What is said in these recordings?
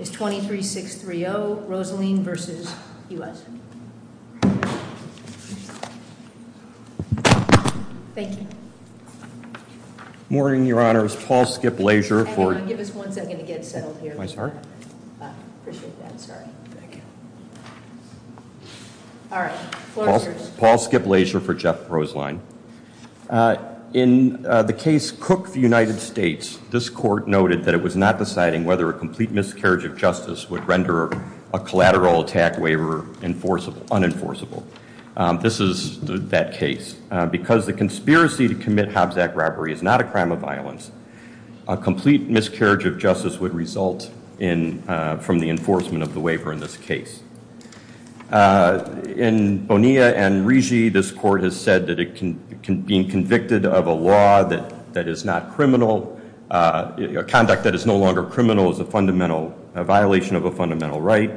23-6-3-0, Roselien v. U.S. Thank you. Morning, Your Honor. It's Paul Skip Lasier for Give us one second to get settled here. I'm sorry? Appreciate that. Sorry. Thank you. Paul Skip Lasier for Jeff Roselien. In the case Cook v. United States, this court noted that it was not deciding whether a complete miscarriage of justice would render a collateral attack waiver unenforceable. This is that case. Because the conspiracy to commit Hobbs Act robbery is not a crime of violence, a complete miscarriage of justice would result from the enforcement of the waiver in this case. In Bonilla v. Rigi, this court has said that being convicted of a law that is not criminal conduct that is no longer criminal is a fundamental violation of a fundamental right.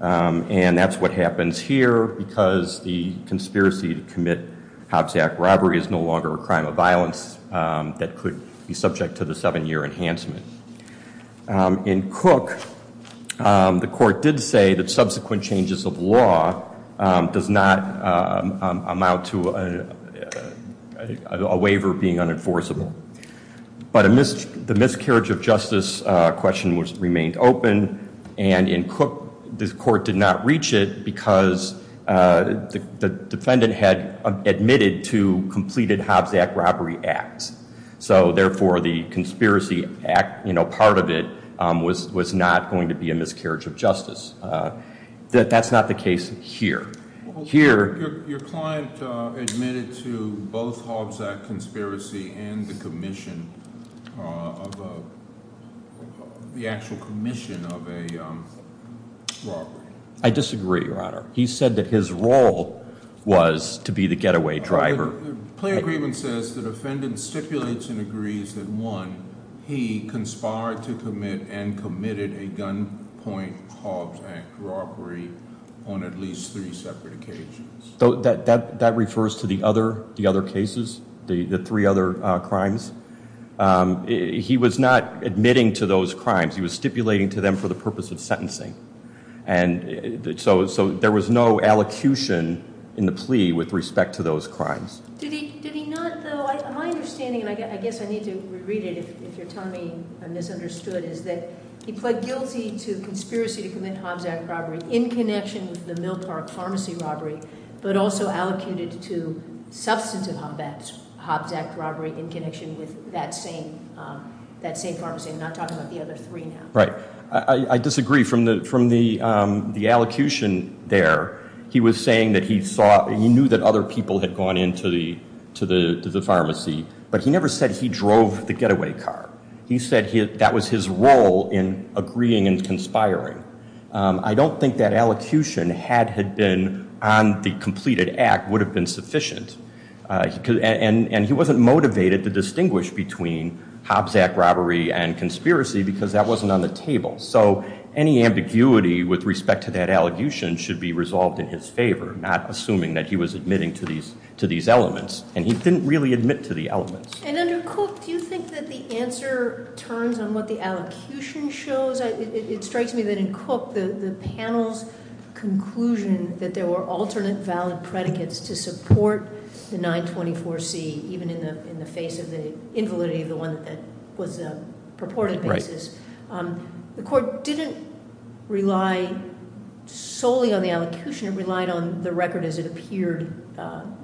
And that's what happens here because the conspiracy to commit Hobbs Act robbery is no longer a crime of violence that could be subject to the seven-year enhancement. In Cook, the court did say that subsequent changes of law does not amount to a waiver being unenforceable. But the miscarriage of justice question remained open. And in Cook, this court did not reach it because the defendant had admitted to completed Hobbs Act robbery acts. So therefore, the conspiracy part of it was not going to be a miscarriage of justice. That's not the case here. Your client admitted to both Hobbs Act conspiracy and the commission of the actual commission of a robbery. I disagree, Your Honor. He said that his role was to be the getaway driver. Plaintiff's agreement says the defendant stipulates and agrees that one, he conspired to commit and committed a gunpoint Hobbs Act robbery on at least three separate occasions. That refers to the other cases, the three other crimes. He was not admitting to those crimes. He was stipulating to them for the purpose of sentencing. So there was no allocution in the plea with respect to those crimes. Did he not, though, my understanding, and I guess I need to read it if you're telling me I'm misunderstood, is that he pled guilty to conspiracy to commit Hobbs Act robbery in connection with the Mill Park pharmacy robbery, but also allocated to substantive Hobbs Act robbery in connection with that same pharmacy. I'm not talking about the other three now. Right. I disagree. From the allocution there, he was saying that he knew that other people had gone into the pharmacy, but he never said he drove the getaway car. He said that was his role in agreeing and conspiring. I don't think that allocution had had been on the completed act would have been sufficient. And he wasn't motivated to distinguish between Hobbs Act robbery and conspiracy because that wasn't on the table. So any ambiguity with respect to that allocation should be resolved in his favor, not assuming that he was admitting to these elements. And he didn't really admit to the elements. And under Cook, do you think that the answer turns on what the allocution shows? It strikes me that in Cook, the panel's conclusion that there were alternate valid predicates to support the 924C, even in the face of the invalidity of the one that was purported basis. The court didn't rely solely on the allocution. It relied on the record as it appeared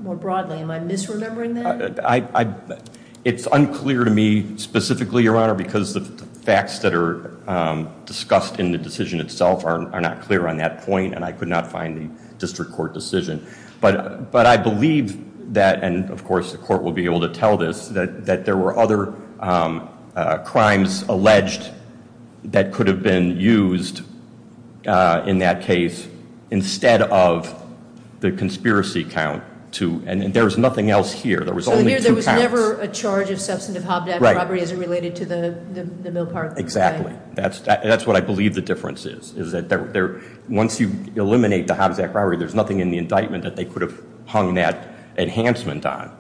more broadly. Am I misremembering that? It's unclear to me specifically, Your discussed in the decision itself are not clear on that point. And I could not find the district court decision. But I believe that, and of course the court will be able to tell this, that there were other crimes alleged that could have been used in that case instead of the conspiracy count. And there's nothing else here. There was only two counts. So there was never a charge of substantive Hobbs Act robbery as it related to the mill park. Exactly. That's what I believe the difference is. Once you eliminate the Hobbs Act robbery, there's nothing in the indictment that they could have hung that enhancement on.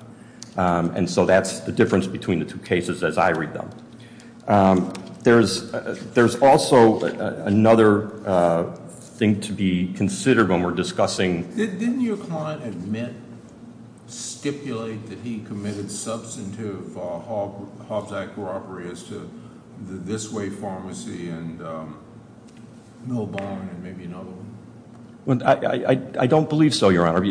And so that's the difference between the two cases as I read them. There's also another thing to be considered when we're discussing. Didn't your client admit stipulate that he committed substantive Hobbs Act robbery as to this way pharmacy and mill barn and maybe another one? I don't believe so, Your Honor.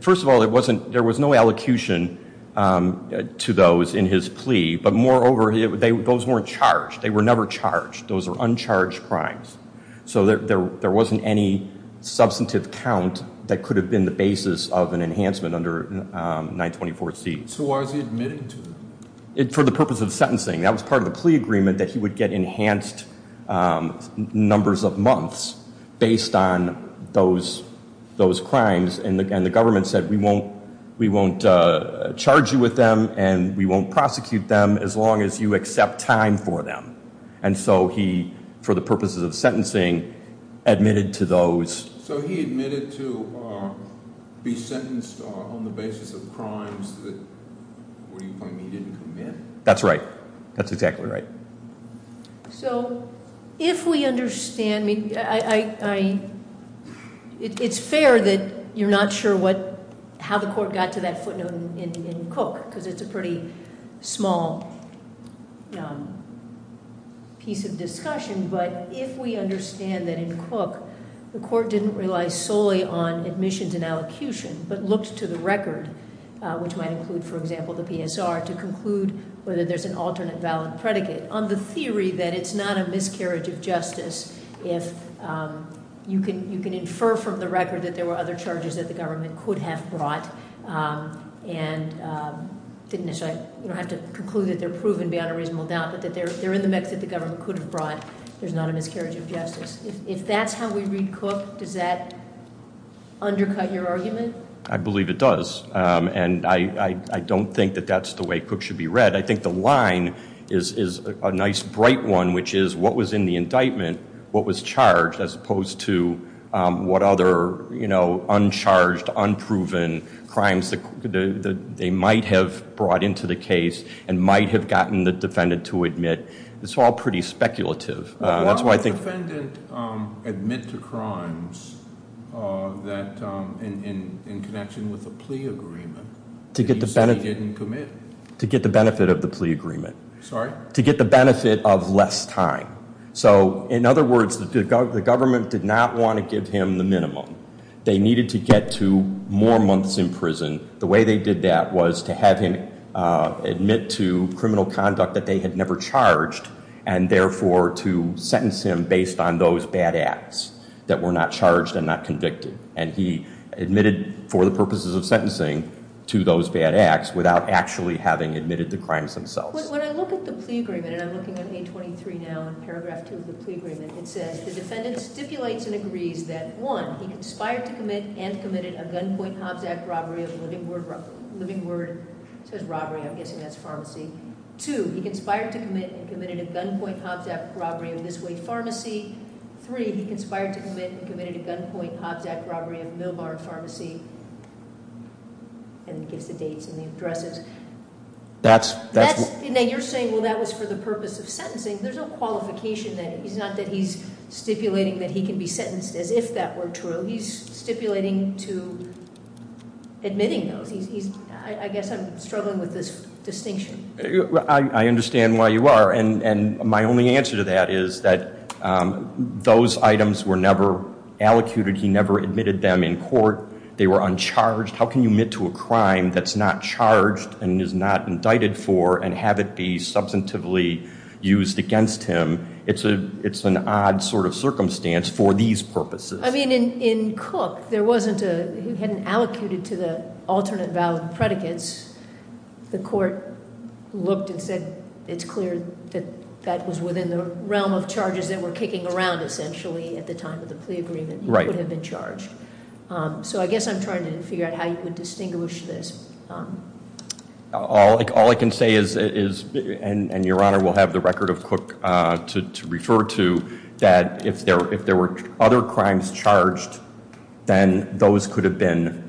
First of all, there was no allocution to those in his plea. But more over, those weren't charged. They were never charged. Those were uncharged crimes. So there wasn't any substantive count that could have been the basis of an enhancement under 924C. So why was he admitted to them? For the purpose of sentencing. That was part of the plea agreement that he would get enhanced numbers of months based on those crimes. And the government said we won't charge you with them and we won't prosecute them as long as you accept time for them. And so he, for the purposes of sentencing, admitted to those. So he admitted to be sentenced on the basis of crimes that he didn't commit? That's right. That's exactly right. So if we understand it's fair that you're not sure how the court got to that footnote in Cook because it's a pretty small piece of discussion. But if we understand that in Cook the court didn't rely solely on permissions and allocution but looked to the record, which might include for example the PSR, to conclude whether there's an alternate valid predicate on the theory that it's not a miscarriage of justice if you can infer from the record that there were other charges that the government could have brought and didn't necessarily have to conclude that they're proven beyond a reasonable doubt but that they're in the mix that the government could have brought, there's not a miscarriage of justice. If that's how we read Cook, does that undercut your argument? I believe it does. And I don't think that that's the way Cook should be read. I think the line is a nice bright one, which is what was in the indictment, what was charged, as opposed to what other uncharged, unproven crimes they might have brought into the case and might have gotten the defendant to admit. It's all pretty speculative. Why would the defendant admit to crimes in connection with a plea agreement that he said he didn't commit? To get the benefit of the plea agreement. Sorry? To get the benefit of less time. So in other words, the government did not want to give him the minimum. They needed to get to more months in prison. The way they did that was to have him admit to criminal conduct that they had never charged and therefore to sentence him based on those bad acts that were not charged and not convicted. And he admitted for the purposes of sentencing to those bad acts without actually having admitted the crimes themselves. When I look at the plea agreement, and I'm looking at 823 now and paragraph 2 of the plea agreement, it says the defendant stipulates and agrees that 1. He conspired to commit and committed a gunpoint Hobbs Act robbery of Living Word. Living Word says robbery, I'm guessing that's a pharmacy. 2. He conspired to commit and committed a gunpoint Hobbs Act robbery of This Way Pharmacy. 3. He conspired to commit and committed a gunpoint Hobbs Act robbery of Millbar Pharmacy. And it gives the dates and the addresses. You're saying that was for the purpose of sentencing. There's no qualification there. It's not that he's stipulating that he can be sentenced as if that were true. He's stipulating to admitting those. I guess I'm struggling with this distinction. I understand why you are. And my only answer to that is that those items were never allocated. He never admitted them in court. They were uncharged. How can you admit to a crime that's not charged and is not indicted for and have it be substantively used against him? It's an odd sort of circumstance for these purposes. I mean, in Cook, there wasn't a who hadn't allocated to the alternate valid predicates. The court looked and said it's clear that was within the realm of charges that were kicking around, essentially, at the time of the plea agreement. He would have been charged. So I guess I'm trying to figure out how you would distinguish this. All I can say is, and Your Honor will have the record of Cook to refer to, that if there were other crimes charged then those could have been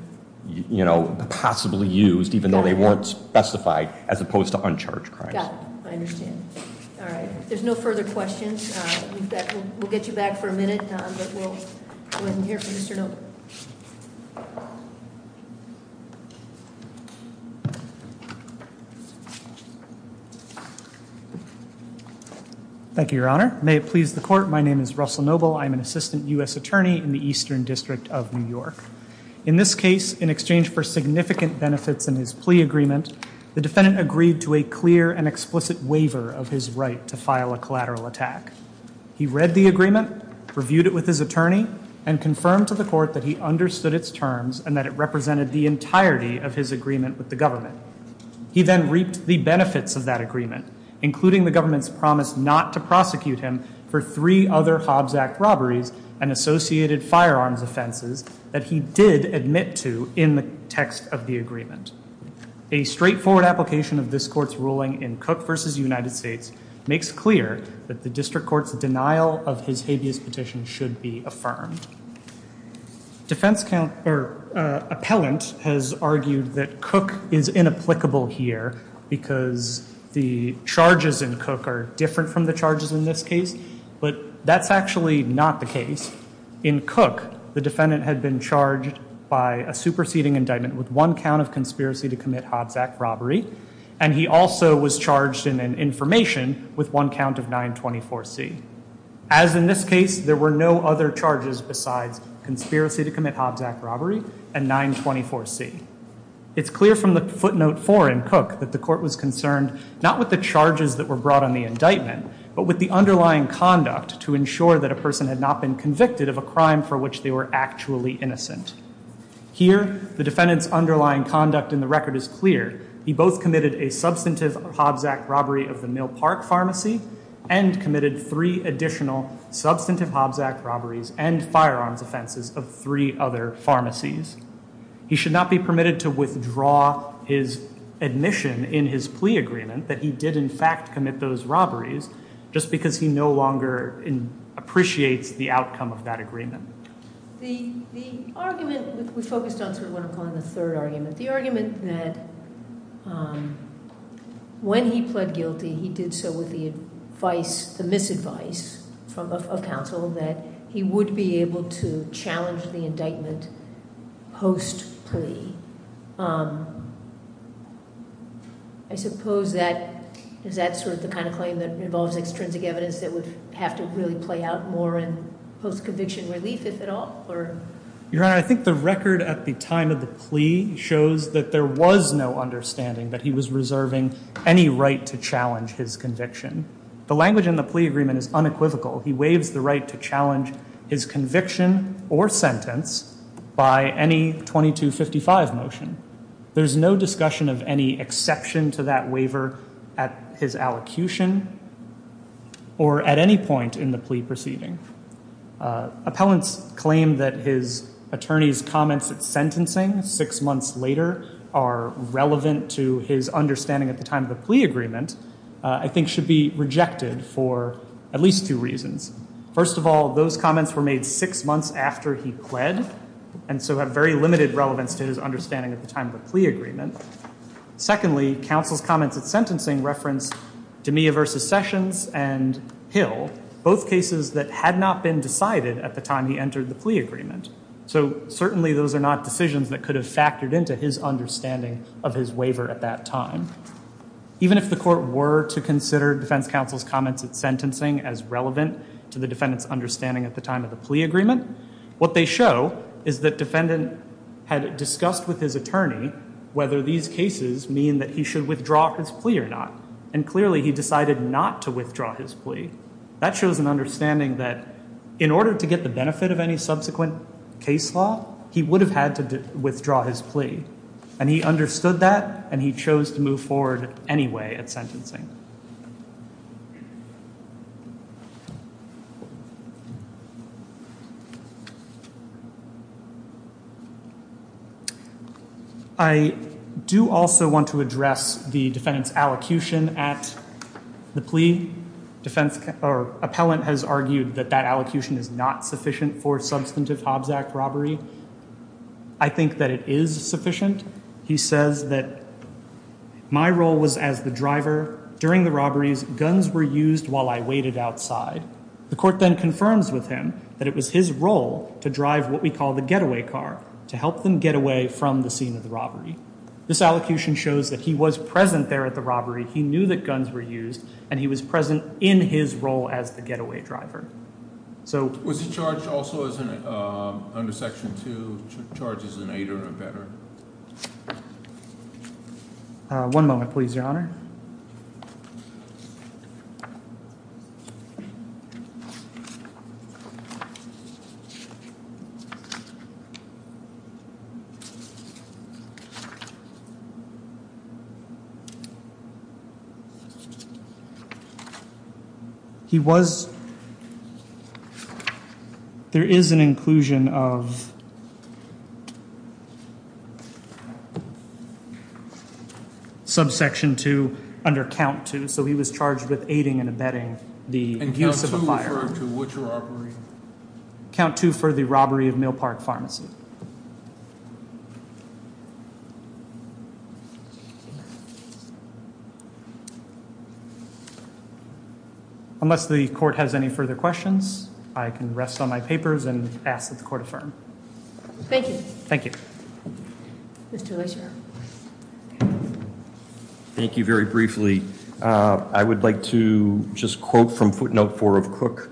possibly used even though they weren't specified as opposed to uncharged crimes. I understand. There's no further questions. We'll get you back for a minute. Thank you, Your Honor. May it please the court, my name is Russell Noble. I'm an assistant U.S. attorney in the Eastern District of New York. In this case, in exchange for significant benefits in his plea agreement, the defendant agreed to a clear and explicit waiver of his right to file a collateral attack. He read the agreement, reviewed it with his attorney, and confirmed to the court that he understood its terms and that it represented the entirety of his agreement with the government. He then reaped the benefits of that agreement, including the government's promise not to prosecute him for three other Hobbs Act robberies and associated firearms offenses that he did admit to in the text of the agreement. A straightforward application of this court's ruling in Cook v. United States makes clear that the district court's denial of his habeas petition should be affirmed. Appellant has argued that Cook is inapplicable here because the charges in Cook are different from the charges in this case, but that's actually not the case. In Cook, the defendant had been charged by a superseding indictment with one count of conspiracy to commit Hobbs Act robbery, and he also was charged in an information with one count of 924C. As in this case, there were no other charges besides conspiracy to commit Hobbs Act robbery and 924C. It's clear from the footnote 4 in Cook that the court was concerned not with the charges that were brought on the indictment, but with the underlying conduct to ensure that a person had not been convicted of a crime for which they were actually innocent. Here, the defendant's underlying conduct in the record is clear. He both committed a substantive Hobbs Act robbery of the Mill Park Pharmacy and committed three additional substantive Hobbs Act robberies and firearms offenses of three other pharmacies. He should not be permitted to withdraw his admission in his plea agreement that he did in fact commit those robberies just because he no longer appreciates the outcome of that agreement. The argument, we focused on sort of what I'm calling the third argument, the argument that when he pled guilty, he did so with the advice, the misadvice of counsel that he would be able to challenge the indictment post-plea I suppose that is that sort of the kind of claim that involves extrinsic evidence that would have to really play out more in post-conviction relief, if at all? Your Honor, I think the record at the time of the plea shows that there was no understanding that he was reserving any right to challenge his conviction. The language in the plea agreement is unequivocal. He waives the right to challenge his conviction or sentence by any 2255 motion. There's no discussion of any exception to that waiver at his allocution or at any point in the plea proceeding. Appellants claim that his attorney's comments at sentencing six months later are relevant to his understanding at the time of the plea agreement, I think should be rejected for at least two reasons. First of all, those comments were made six months after he pled, and so have very limited relevance to his understanding at the time of the plea agreement. Secondly, counsel's comments at sentencing reference D'Amia v. Sessions and Hill, both cases that had not been decided at the time he entered the plea agreement. So certainly those are not decisions that could have factored into his understanding of his waiver at that time. Even if the court were to consider defense counsel's comments at sentencing as relevant to the defendant's understanding at the time of the plea agreement, what they show is that defendant had discussed with his attorney whether these cases mean that he should withdraw his plea or not. And clearly he decided not to withdraw his plea. That shows an understanding that in order to get the benefit of any subsequent case law, he would have had to withdraw his plea. And he understood that, and he chose to move forward anyway at sentencing. I do also want to address the defendant's allocution at the plea. Appellant has argued that that allocution is not sufficient for substantive Hobbs Act robbery. I think that it is sufficient. He says that my role was as the driver, and my role was to drive the getaway car. During the robberies, guns were used while I waited outside. The court then confirms with him that it was his role to drive what we call the getaway car, to help them get away from the scene of the robbery. This allocution shows that he was present there at the robbery. He knew that guns were used, and he was present in his role as the getaway driver. Was he charged also under Section 2, charges in 8 or better? One moment, please, Your Honor. He was There is an inclusion of Subsection 2 under Count 2, so he was charged with aiding and abetting the use of a firearm. Count 2 for the robbery of Mill Park Pharmacy. Unless the court has any further questions, I can rest on my papers and ask that the court affirm. Thank you. Thank you very briefly. I would like to just quote from footnote 4 of Cook.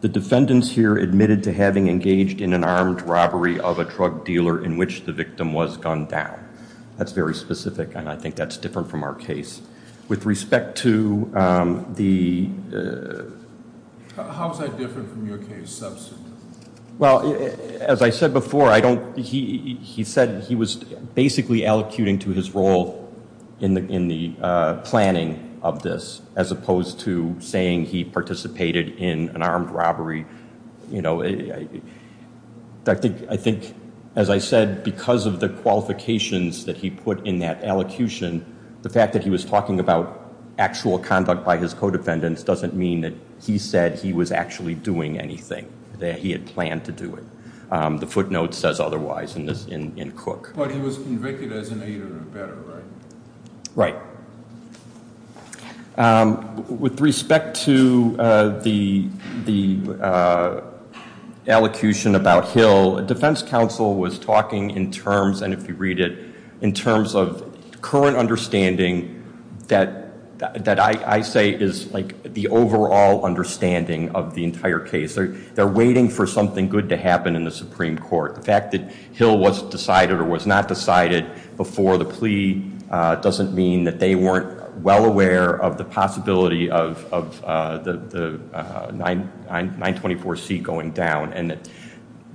The defendants here admitted to having engaged in an armed robbery of a drug dealer in which the victim was gunned down. That's very specific, and I think that's different from our case. With respect to the How is that different from your case, substitute? Well, as I said before, he said he was basically allocuting to his role in the planning of this, as opposed to saying he participated in an armed robbery. I think, as I said, because of the qualifications that he put in that allocution, the fact that he was talking about actual conduct by his co-defendants doesn't mean that he said he was actually doing anything, that he had planned to do it. The footnote says otherwise in Cook. But he was convicted as an aider and abetter, right? Right. With respect to the allocution about Hill, defense counsel was talking in terms, and if you read it, in terms of current understanding that I say is the overall understanding of the entire case. They're waiting for something good to happen in the Supreme Court. The fact that Hill was decided or was not decided before the plea doesn't mean that they weren't well aware of the possibility of the 924C going down.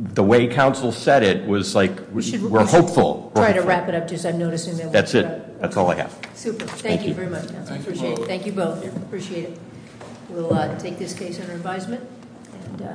The way counsel said it was like, we're hopeful. That's it. That's all I have. Thank you.